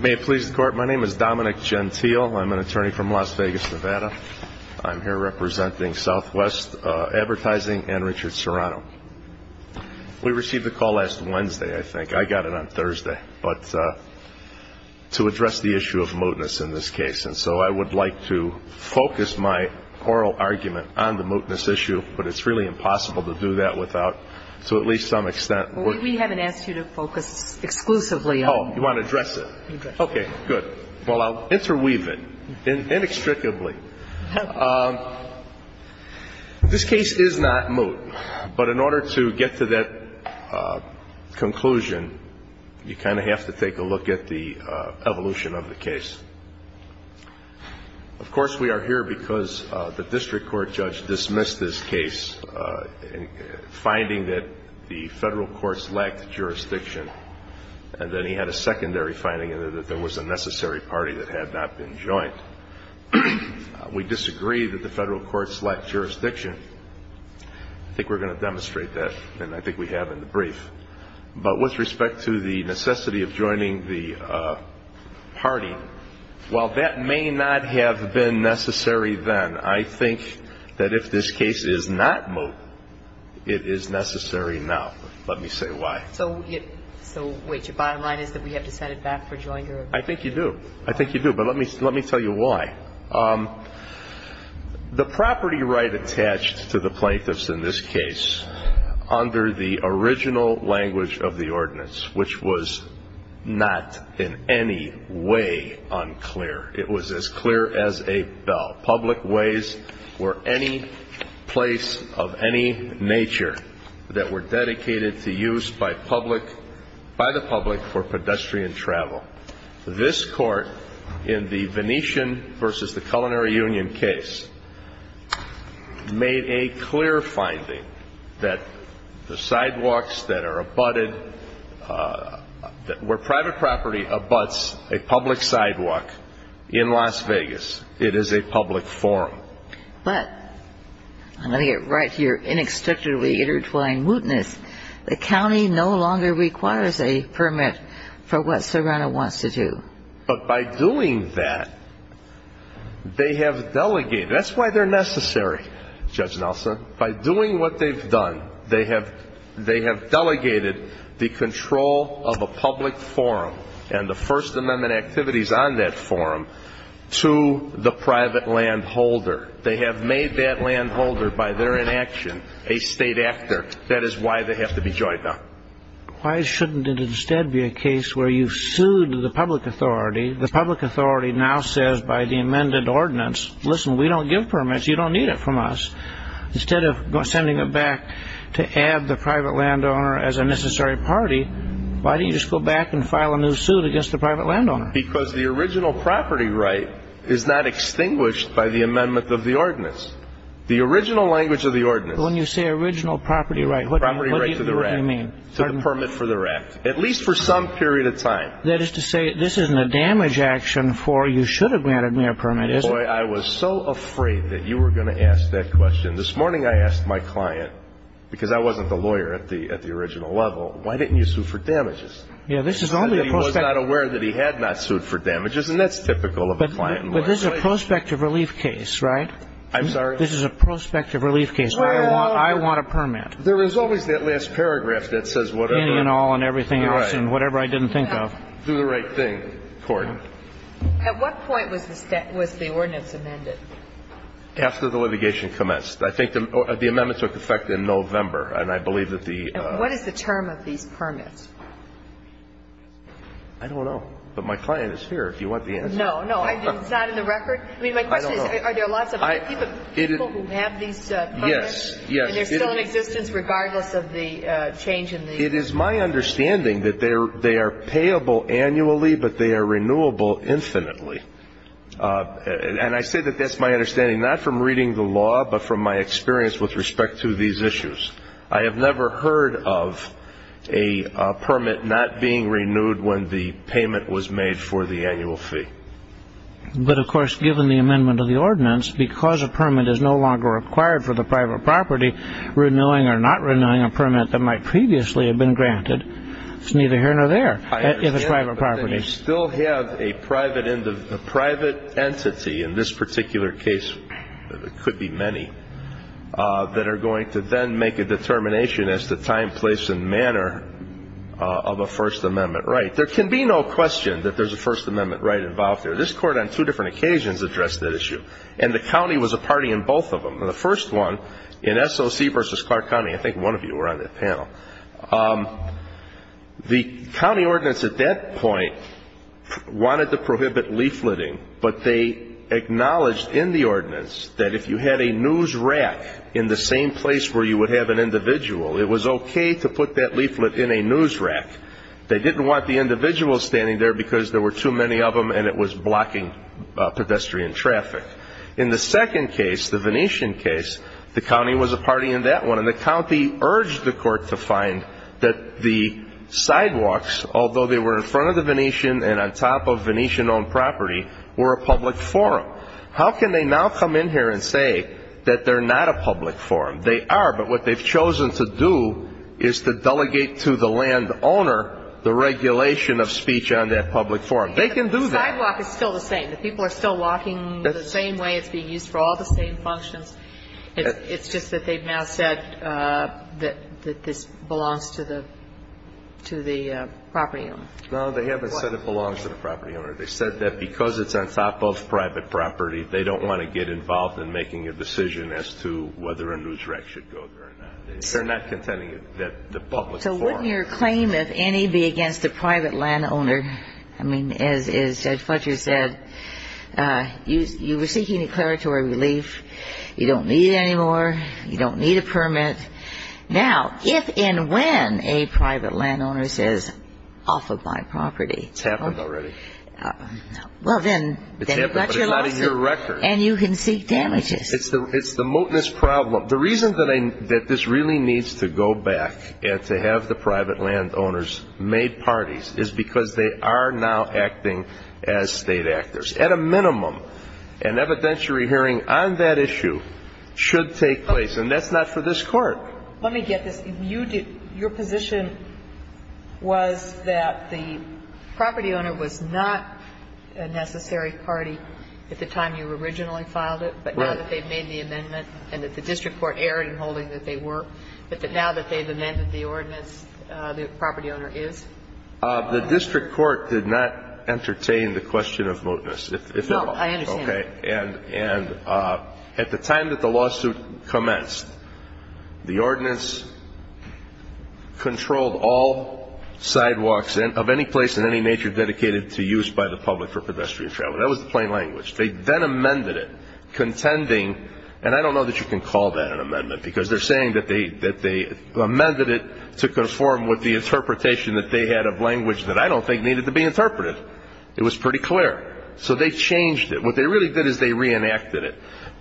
May it please the court, my name is Dominic Gentile. I'm an attorney from Las Vegas, Nevada. I'm here representing Southwest Advertising and Richard Serrano We received the call last Wednesday. I think I got it on Thursday, but To address the issue of mootness in this case And so I would like to focus my oral argument on the mootness issue But it's really impossible to do that without to at least some extent. We haven't asked you to focus exclusively You want to address it? Okay, good. Well, I'll interweave it in inextricably This case is not moot, but in order to get to that Conclusion you kind of have to take a look at the evolution of the case Of course we are here because the district court judge dismissed this case Finding that the federal courts lacked jurisdiction And then he had a secondary finding in there that there was a necessary party that had not been joint We disagree that the federal courts lacked jurisdiction. I Think we're going to demonstrate that and I think we have in the brief but with respect to the necessity of joining the Party, well that may not have been necessary Then I think that if this case is not moot it is necessary. Now, let me say why so I think you do. I think you do but let me let me tell you why The property right attached to the plaintiffs in this case under the original language of the ordinance, which was Not in any way unclear. It was as clear as a bell. Public ways were any place of any nature That were dedicated to use by public by the public for pedestrian travel This court in the Venetian versus the Culinary Union case Made a clear finding that the sidewalks that are abutted That where private property abuts a public sidewalk in Las Vegas, it is a public forum, but I'm gonna get right here inextricably intertwined mootness The county no longer requires a permit for what Serrano wants to do, but by doing that They have delegated. That's why they're necessary Judge Nelson by doing what they've done They have they have delegated the control of a public forum and the First Amendment activities on that forum To the private land holder. They have made that land holder by their inaction a state actor That is why they have to be joined up Why shouldn't it instead be a case where you've sued the public authority the public authority now says by the amended ordinance? Listen, we don't give permits. You don't need it from us Instead of sending it back to add the private landowner as a necessary party Why do you just go back and file a new suit against the private landowner because the original property right is not? Extinguished by the amendment of the ordinance the original language of the ordinance when you say original property, right? What property right to the right? I mean So the permit for the right at least for some period of time that is to say this isn't a damage action For you should have granted me a permit is why I was so afraid that you were gonna ask that question this morning I asked my client because I wasn't the lawyer at the at the original level. Why didn't you sue for damages? Yeah, this is only a post that aware that he had not sued for damages and that's typical of a client But there's a prospective relief case, right? I'm sorry. This is a prospective relief case. Well, I want a permit There is always that last paragraph that says whatever and all and everything else and whatever I didn't think of do the right thing Court At what point was the step was the ordinance amended? After the litigation commenced. I think the amendments were defect in November and I believe that the what is the term of these permits? I Don't know but my client is here if you want the end. No, no, it's not in the record I mean my question is are there lots of I? Yes, yes Regardless of the change in it is my understanding that they're they are payable annually But they are renewable infinitely And I say that that's my understanding not from reading the law but from my experience with respect to these issues I have never heard of a Permit not being renewed when the payment was made for the annual fee But of course given the amendment of the ordinance because a permit is no longer required for the private property Renewing or not renewing a permit that might previously have been granted. It's neither here nor there In the private property you still have a private in the private entity in this particular case It could be many That are going to then make a determination as to time place and manner Of a First Amendment right there can be no question that there's a First Amendment right involved there this court on two different occasions Addressed that issue and the county was a party in both of them the first one in SOC versus Clark County I think one of you were on that panel The County ordinance at that point wanted to prohibit leafleting, but they Acknowledged in the ordinance that if you had a news rack in the same place where you would have an individual It was okay to put that leaflet in a news rack They didn't want the individual standing there because there were too many of them and it was blocking pedestrian traffic in the second case the Venetian case the county was a party in that one and the county urged the court to find that the Sidewalks, although they were in front of the Venetian and on top of Venetian owned property were a public forum How can they now come in here and say that they're not a public forum? They are but what they've chosen to do is to delegate to the land owner the regulation of speech on that public forum They can do that walk is still the same that people are still walking the same way For all the same functions It's just that they've now said that that this belongs to the To the property. No, they haven't said it belongs to the property owner They said that because it's on top of private property They don't want to get involved in making a decision as to whether a news rack should go They're not contending that the public so wouldn't your claim if any be against the private land owner? I mean as is judge Fletcher said Use you were seeking declaratory relief you don't need anymore. You don't need a permit Now if and when a private land owner says off of my property, it's happened already Well, then it's not a year record and you can seek damages It's the it's the moteness problem The reason that I that this really needs to go back and to have the private land owners Made parties is because they are now acting as state actors at a minimum an evidentiary Hearing on that issue should take place and that's not for this court. Let me get this you did your position was that the property owner was not a Necessary party at the time you originally filed it But now that they've made the amendment and that the district court erred in holding that they were But that now that they've amended the ordinance the property owner is the district court did not entertain the question of moteness if Okay, and and at the time that the lawsuit commenced the ordinance Controlled all Sidewalks in of any place in any nature dedicated to use by the public for pedestrian travel. That was the plain language They then amended it Contending and I don't know that you can call that an amendment because they're saying that they that they Amended it to conform with the interpretation that they had a blank which that I don't think needed to be interpreted It was pretty clear. So they changed it. What they really did is they reenacted it?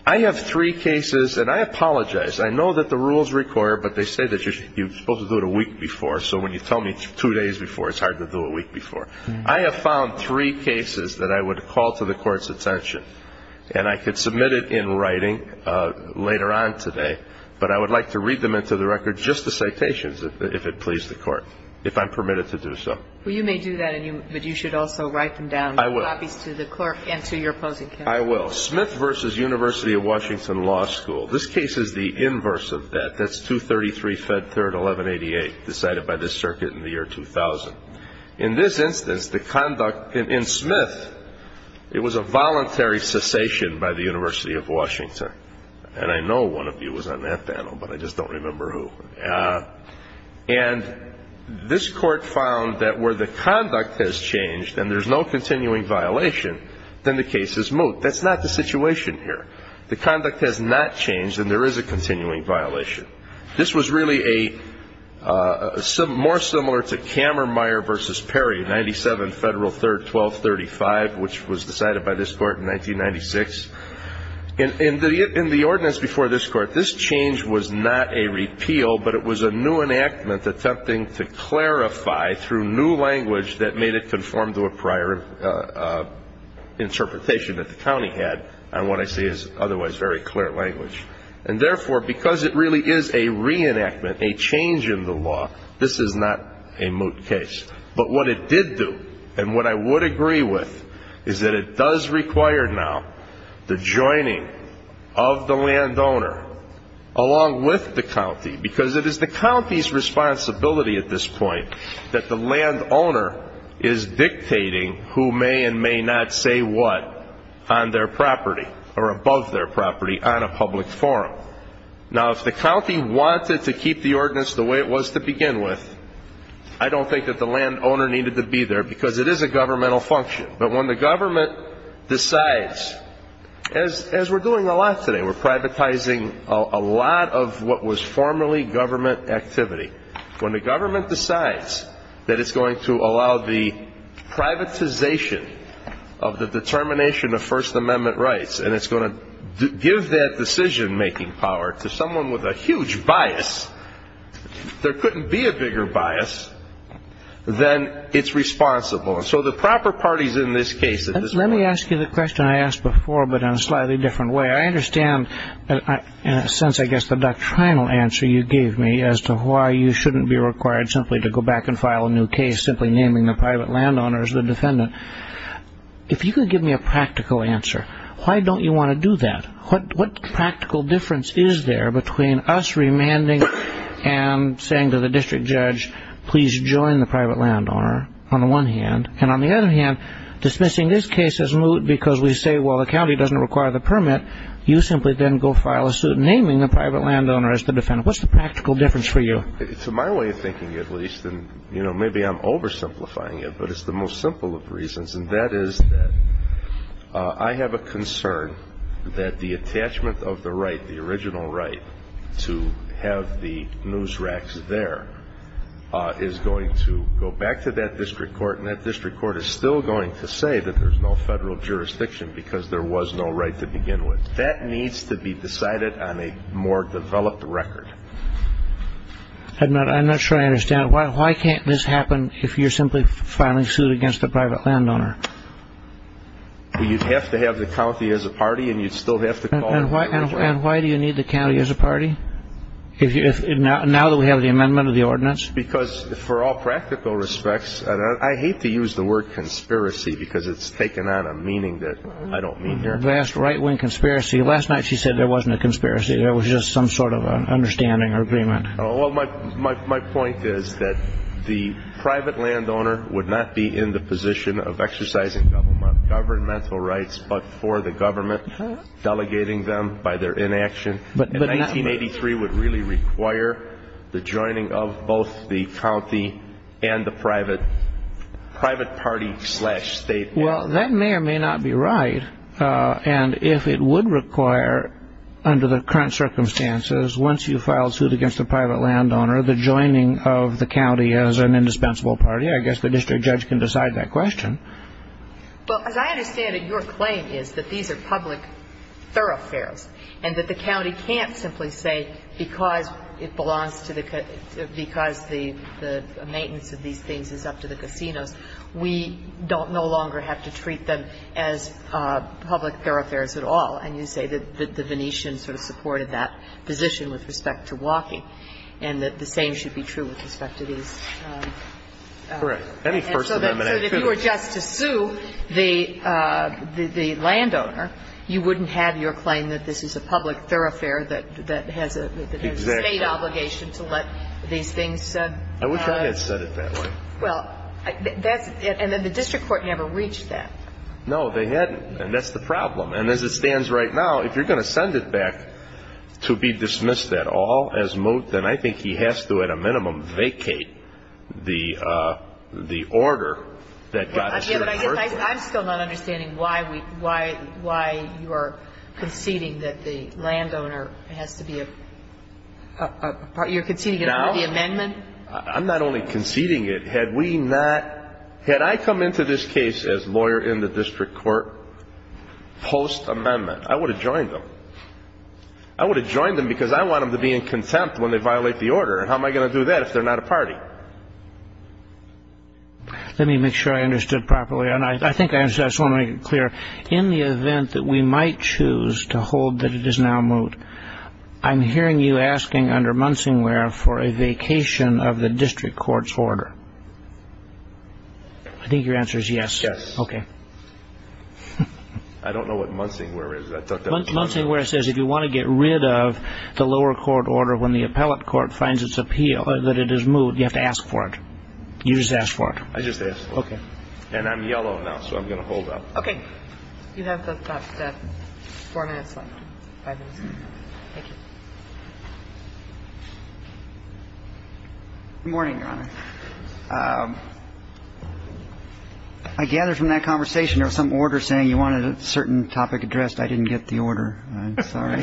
I have three cases and I apologize I know that the rules require but they say that you're supposed to do it a week before So when you tell me two days before it's hard to do a week before I have found three Cases that I would call to the court's attention and I could submit it in writing Later on today, but I would like to read them into the record Just the citations if it pleased the court if I'm permitted to do so Well, you may do that and you but you should also write them down I will obvious to the clerk and to your opposing I will Smith versus University of Washington Law School This case is the inverse of that. That's 233 fed third 1188 decided by this circuit in the year 2000 in this instance the conduct in Smith It was a voluntary cessation by the University of Washington and I know one of you was on that panel, but I just don't remember who and This court found that where the conduct has changed and there's no continuing violation then the case is moot That's not the situation here. The conduct has not changed and there is a continuing violation. This was really a Some more similar to Kammermeyer versus Perry 97 federal third 1235, which was decided by this court in 1996 In the in the ordinance before this court, this change was not a repeal But it was a new enactment attempting to clarify through new language that made it conform to a prior Interpretation that the county had and what I see is otherwise very clear language and therefore because it really is a Re-enactment a change in the law. This is not a moot case But what it did do and what I would agree with is that it does require now the joining of the landowner Along with the county because it is the county's responsibility at this point that the landowner is Dictating who may and may not say what on their property or above their property on a public forum Now if the county wanted to keep the ordinance the way it was to begin with I Don't think that the landowner needed to be there because it is a governmental function, but when the government decides As as we're doing a lot today we're privatizing a lot of what was formerly government activity when the government decides that it's going to allow the privatization of the determination of First Amendment rights and it's going to Give that decision-making power to someone with a huge bias There couldn't be a bigger bias Then it's responsible. So the proper parties in this case. Let me ask you the question I asked before but in a slightly different way I understand that in a sense I guess the doctrinal answer you gave me as to why you shouldn't be required simply to go back and file a new case simply Naming the private landowners the defendant If you could give me a practical answer, why don't you want to do that? what what practical difference is there between us remanding and Saying to the district judge, please join the private landowner on the one hand and on the other hand Dismissing this case as moot because we say well the county doesn't require the permit You simply then go file a suit naming the private landowner as the defendant. What's the practical difference for you? It's my way of thinking at least and you know, maybe I'm oversimplifying it but it's the most simple of reasons and that is that I Have a concern that the attachment of the right the original right to have the news racks there Is going to go back to that district court and that district court is still going to say that there's no federal Jurisdiction because there was no right to begin with that needs to be decided on a more developed record I'm not I'm not sure. I understand. Why can't this happen if you're simply filing suit against the private landowner? You'd have to have the county as a party and you'd still have to call and why do you need the county as a party? If you're not now that we have the amendment of the ordinance because for all practical respects I hate to use the word conspiracy because it's taken on a meaning that I don't mean they're vast right-wing conspiracy last night She said there wasn't a conspiracy. There was just some sort of an understanding or agreement Oh, well, my my point is that the private landowner would not be in the position of exercising governmental rights, but for the government Delegating them by their inaction, but in 1983 would really require the joining of both the county and the private Private party slash state. Well, that may or may not be right And if it would require under the current Circumstances once you filed suit against the private landowner the joining of the county as an indispensable party I guess the district judge can decide that question But as I understand it your claim is that these are public thoroughfares and that the county can't simply say because it belongs to the because the Maintenance of these things is up to the casinos. We don't no longer have to treat them as public thoroughfares at all and you say that the Venetian sort of supported that position with respect to walking and That the same should be true with respect to these correct, any person were just to sue the The landowner you wouldn't have your claim that this is a public thoroughfare that that has a State obligation to let these things said I wish I had said it that way That's it and then the district court never reached that no they hadn't and that's the problem and as it stands right now if you're Going to send it back to be dismissed at all as moved and I think he has to at a minimum vacate the the order that I'm still not understanding. Why we why why you are conceding that the landowner has to be a You're conceding it out of the amendment. I'm not only conceding it had we not Had I come into this case as lawyer in the district court Post amendment I would have joined them I Would have joined them because I want them to be in contempt when they violate the order and how am I going to do that? If they're not a party Let me make sure I understood properly and I think I just want to make it clear in the event that we might choose To hold that it is now moot I'm hearing you asking under Munsing where for a vacation of the district court's order I Think your answer is yes, okay, I Don't know what Munsing where is that? Munsing where it says if you want to get rid of the lower court order when the appellate court finds its appeal that it is Moot you have to ask for it. You just ask for it. I just ask okay, and I'm yellow now, so I'm gonna hold up, okay Thank you Morning I gather from that conversation or some order saying you wanted a certain topic addressed. I didn't get the order. I'm sorry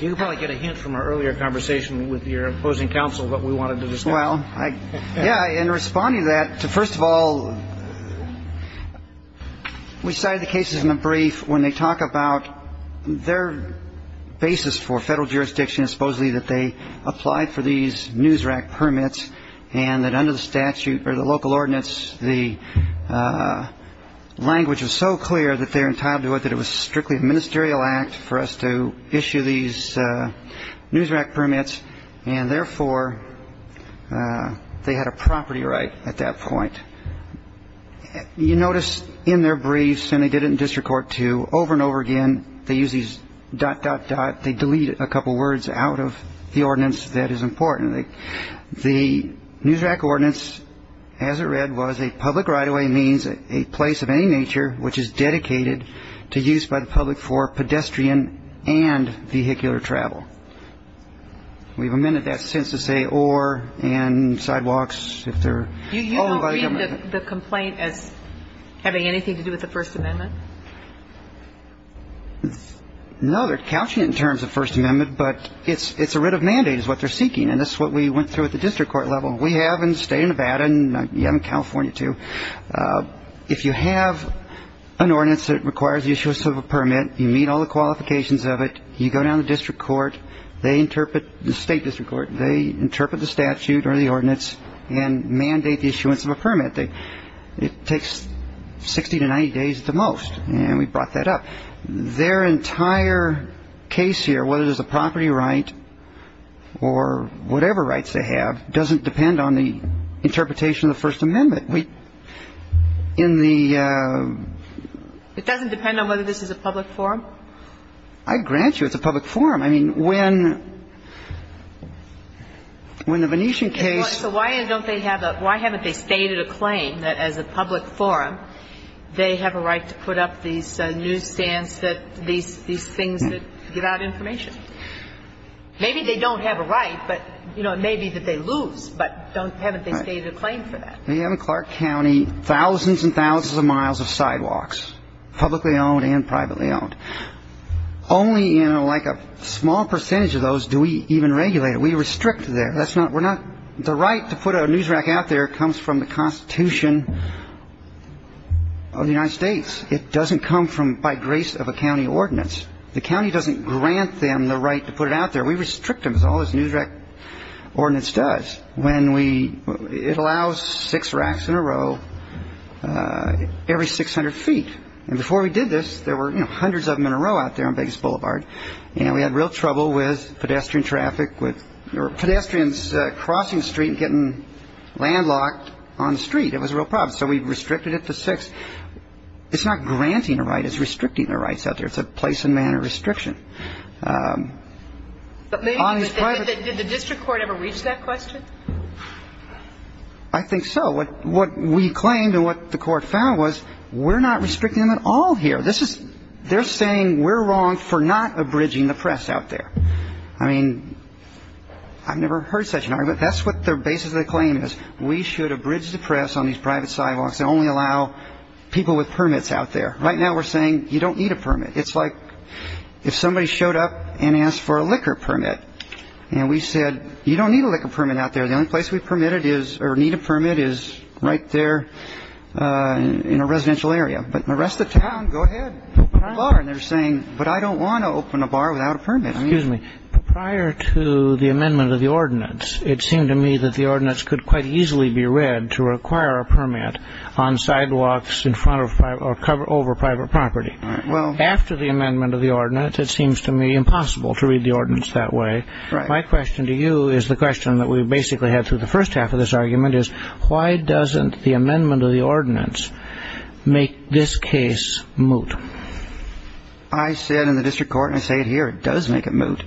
You probably get a hint from our earlier conversation with your opposing counsel what we wanted to just well I yeah in responding to that to first of all We Decided the cases in a brief when they talk about their basis for federal jurisdiction supposedly that they applied for these news rack permits and that under the statute or the local ordinance the Language was so clear that they're entitled to it that it was strictly a ministerial act for us to issue these news rack permits and therefore They had a property right at that point You notice in their briefs and they did it in district court to over and over again They use these dot dot dot they delete a couple words out of the ordinance. That is important the news rack ordinance As it read was a public right-of-way means a place of any nature which is dedicated to use by the public for pedestrian and vehicular travel We've amended that since to say or and sidewalks if they're The complaint as having anything to do with the First Amendment No, they're couching in terms of First Amendment But it's it's a writ of mandate is what they're seeking and that's what we went through at the district court level We have in the state of Nevada and California, too if you have An ordinance that requires the issuance of a permit you meet all the qualifications of it You go down the district court. They interpret the state district court They interpret the statute or the ordinance and mandate the issuance of a permit they it takes 60 to 90 days at the most and we brought that up their entire case here whether there's a property right or Whatever rights they have doesn't depend on the interpretation of the First Amendment we in the It doesn't depend on whether this is a public forum. I grant you it's a public forum. I mean when When the Venetian case, so why don't they have that why haven't they stated a claim that as a public forum They have a right to put up these newsstands that these these things that give out information Maybe they don't have a right, but you know It may be that they lose but don't haven't they stated a claim for that We have in Clark County thousands and thousands of miles of sidewalks publicly owned and privately owned Only you know like a small percentage of those do we even regulate it we restrict there That's not we're not the right to put a news rack out there comes from the Constitution Of the United States it doesn't come from by grace of a county ordinance The county doesn't grant them the right to put it out there. We restrict them as all this news rack Ordinance does when we it allows six racks in a row Every 600 feet and before we did this there were you know hundreds of them in a row out there on Vegas Boulevard And we had real trouble with pedestrian traffic with your pedestrians crossing Street getting Landlocked on the street. It was a real problem. So we've restricted it to six It's not granting a right is restricting their rights out there. It's a place and manner restriction I Think so what what we claimed and what the court found was we're not restricting them at all here This is they're saying we're wrong for not abridging the press out there. I mean I've never heard such an argument. That's what their basis of the claim is We should abridge the press on these private sidewalks and only allow People with permits out there right now. We're saying you don't need a permit It's like if somebody showed up and asked for a liquor permit And we said you don't need a liquor permit out there. The only place we permitted is or need a permit is right there In a residential area, but the rest of town go ahead They're saying but I don't want to open a bar without a permit I mean is me prior to the amendment of the ordinance It seemed to me that the ordinance could quite easily be read to require a permit on The amendment of the ordinance it seems to me impossible to read the ordinance that way My question to you is the question that we basically had through the first half of this argument is why doesn't the amendment of the ordinance? make this case moot I Said in the district court and I say it here. It does make it moot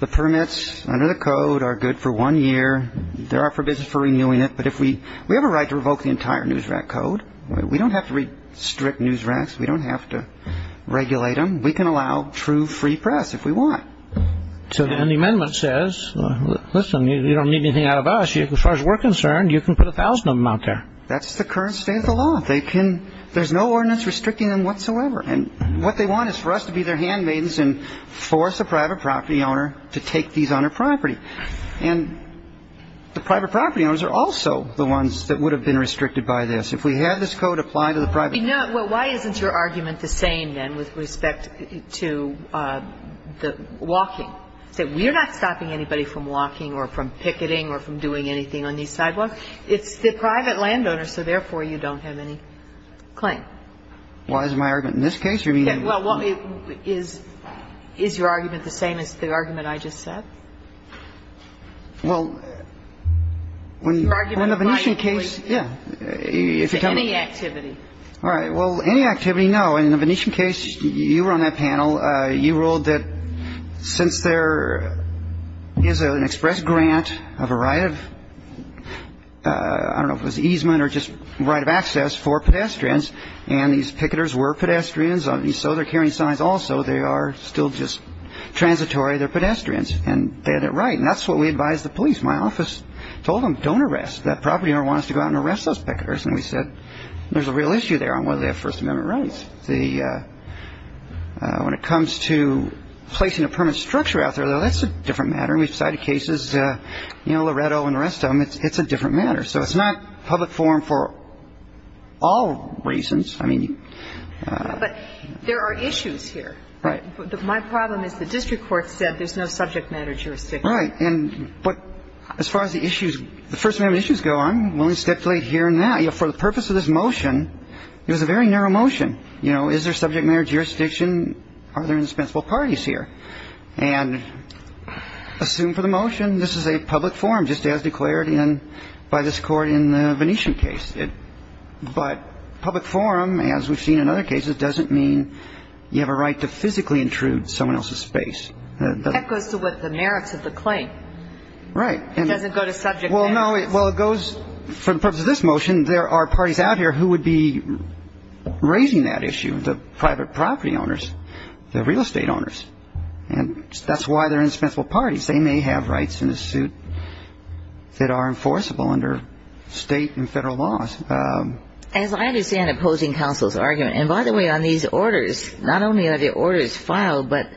the permits under the code are good for one year There are for business for renewing it But if we we have a right to revoke the entire news rack code, we don't have to read strict news racks We don't have to regulate them. We can allow true free press if we want So the end amendment says Listen, you don't need anything out of us you as far as we're concerned. You can put a thousand of them out there That's the current state of the law They can there's no ordinance restricting them whatsoever and what they want is for us to be their handmaidens and force a private property owner to take these on her property and The private property owners are also the ones that would have been restricted by this if we had this code apply to the private Why isn't your argument the same then with respect to? The walking so we're not stopping anybody from walking or from picketing or from doing anything on these sidewalks It's the private landowner. So therefore you don't have any Claim why is my argument in this case? You mean? Yeah. Well, what is is your argument the same as the argument? I just said Well When the Venetian case, yeah All right, well any activity no in the Venetian case you were on that panel you ruled that since there is an express grant of a right of I Don't know if it was easement or just right of access for pedestrians and these picketers were pedestrians on these So they're carrying signs. Also, they are still just Transitory they're pedestrians and they're they're right and that's what we advise the police my office told them don't arrest that property owner wants to go out and arrest those picketers and we said there's a real issue there on whether they have First Amendment rights the When it comes to Placing a permit structure out there though. That's a different matter. We've cited cases, you know Loretto and the rest of them It's it's a different matter. So it's not public forum for all reasons, I mean But there are issues here, right but my problem is the district court said there's no subject matter jurisdiction Right and but as far as the issues the First Amendment issues go, I'm willing to stipulate here now, you know for the purpose of this motion It was a very narrow motion. You know, is there subject matter jurisdiction? Are there indispensable parties here and Assume for the motion. This is a public forum just as declared in by this court in the Venetian case But public forum as we've seen in other cases doesn't mean you have a right to physically intrude someone else's space That goes to what the merits of the claim Right and doesn't go to subject. Well, no it well it goes for the purpose of this motion. There are parties out here who would be Raising that issue the private property owners the real estate owners and that's why they're indispensable parties They may have rights in a suit That are enforceable under state and federal laws As I understand opposing counsel's argument and by the way on these orders, not only are the orders filed But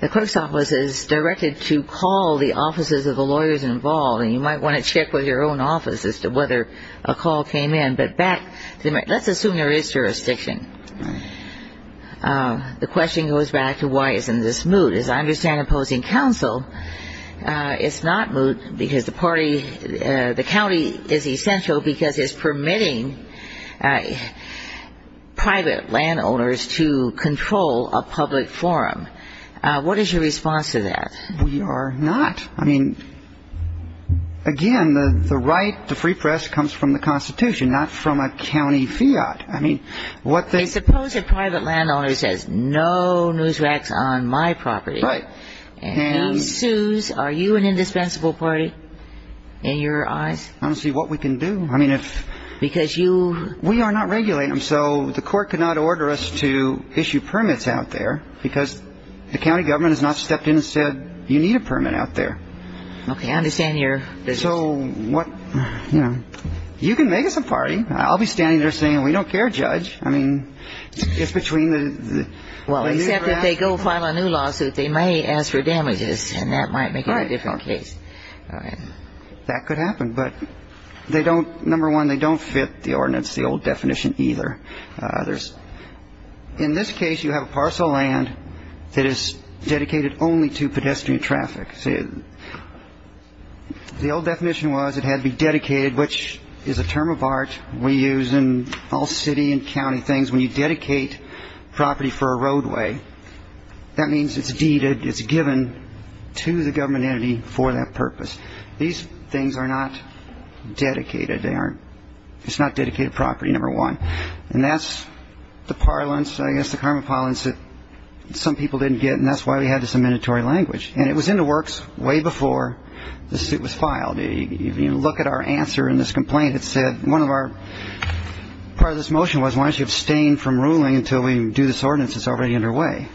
the clerk's office is directed to call the offices of the lawyers involved and you might want to check with your own office As to whether a call came in but back to them. Let's assume there is jurisdiction The question goes back to why is in this mood as I understand opposing counsel It's not moot because the party the county is essential because it's permitting Private landowners to control a public forum. What is your response to that? We are not I mean Again, the the right to free press comes from the Constitution not from a county fiat I mean what they suppose if private landowners has no news racks on my property, right? Sues are you an indispensable party in your eyes? I don't see what we can do I mean if because you we are not regulating them So the court could not order us to issue permits out there because the county government has not stepped in and said you need a permit Out there. Okay. I understand your so what you know, you can make us a party I'll be standing there saying we don't care judge. I mean It's between the well except that they go file a new lawsuit they may ask for damages and that might make a different case That could happen, but they don't number one. They don't fit the ordinance the old definition either there's In this case you have a parcel land that is dedicated only to pedestrian traffic. See The old definition was it had to be dedicated which is a term of art We use in all city and county things when you dedicate property for a roadway That means it's deeded. It's given to the government entity for that purpose. These things are not Dedicated they aren't it's not dedicated property number one. And that's the parlance. I guess the karma pollen said Some people didn't get and that's why we had this a mandatory language and it was in the works way before The suit was filed a look at our answer in this complaint. It said one of our Part of this motion was why don't you abstain from ruling until we do this ordinance? It's already underway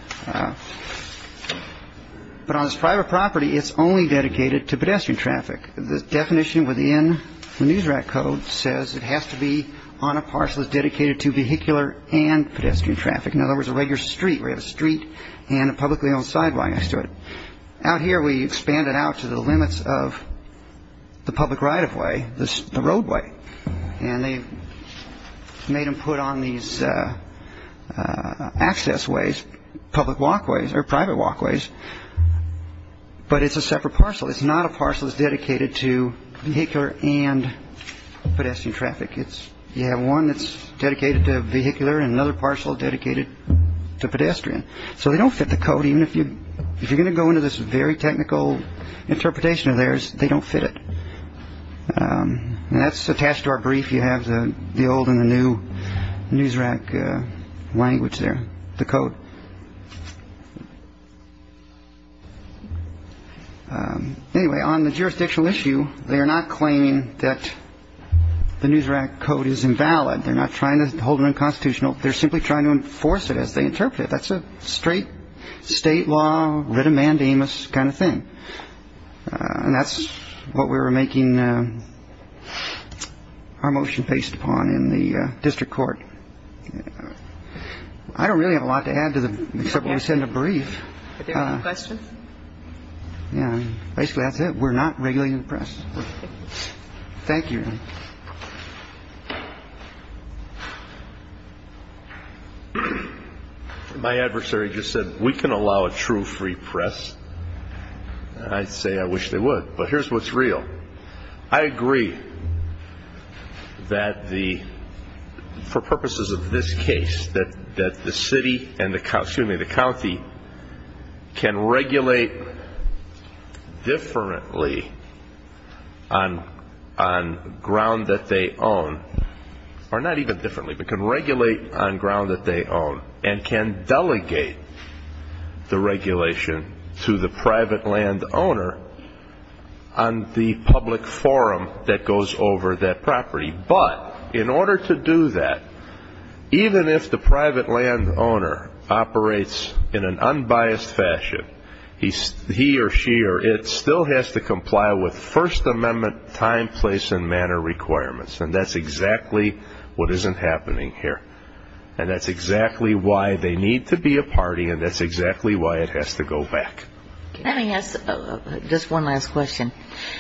But on this private property It's only dedicated to pedestrian traffic the definition within The Newsrat code says it has to be on a parcel is dedicated to vehicular and pedestrian traffic In other words a regular street where the street and a publicly owned sidewalk next to it out here we expand it out to the limits of the public right-of-way this the roadway and they made them put on these Access ways public walkways or private walkways But it's a separate parcel. It's not a parcel is dedicated to vehicular and Pedestrian traffic. It's you have one that's dedicated to vehicular and another parcel dedicated to pedestrian So they don't fit the code even if you if you're going to go into this very technical interpretation of theirs they don't fit it And that's attached to our brief you have the the old and the new Newsrat language there the code Anyway on the jurisdictional issue, they are not claiming that The Newsrat code is invalid. They're not trying to hold an unconstitutional. They're simply trying to enforce it as they interpret it That's a straight state law written mandamus kind of thing And that's what we were making Our motion based upon in the district court, I Don't really have a lot to add to the several we send a brief Yeah, basically that's it we're not really impressed Thank you My adversary just said we can allow a true free press. I'd say I wish they would but here's what's real. I agree That the for purposes of this case that that the city and the costuming the county can regulate Differently on on Ground that they own or not even differently, but can regulate on ground that they own and can delegate the regulation to the private land owner on The public forum that goes over that property, but in order to do that Even if the private land owner Operates in an unbiased fashion He's he or she or it still has to comply with First Amendment time place and manner Requirements and that's exactly what isn't happening here And that's exactly why they need to be a party and that's exactly why it has to go back Just one last question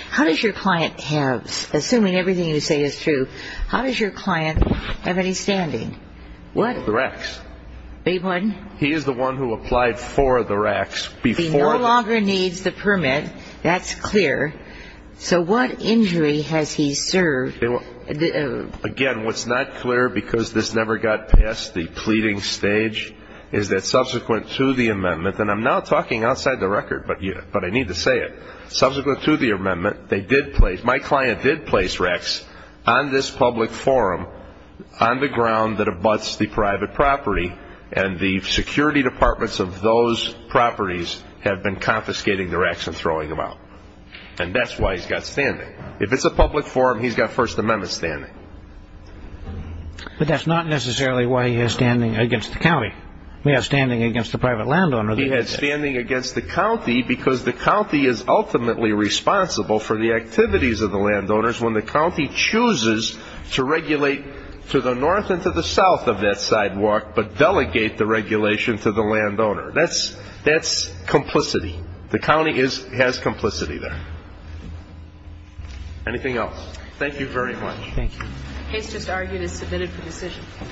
How does your client have assuming everything you say is true? How does your client have any standing? What the wrecks They wouldn't he is the one who applied for the racks before longer needs the permit. That's clear So what injury has he served? Again, what's not clear because this never got past the pleading stage? Is that subsequent to the amendment and I'm now talking outside the record, but yeah But I need to say it subsequent to the amendment they did place my client did place Rex on this public forum On the ground that abuts the private property and the security departments of those Properties have been confiscating their action throwing them out and that's why he's got standing if it's a public forum He's got First Amendment standing But that's not necessarily why he is standing against the county we are standing against the private land owner He had standing against the county because the county is ultimately Responsible for the activities of the landowners when the county chooses to regulate to the north and to the south of that sidewalk But delegate the regulation to the landowner. That's that's Complicity the county is has complicity there Anything else, thank you very much. Thank you. It's just argued is submitted for decision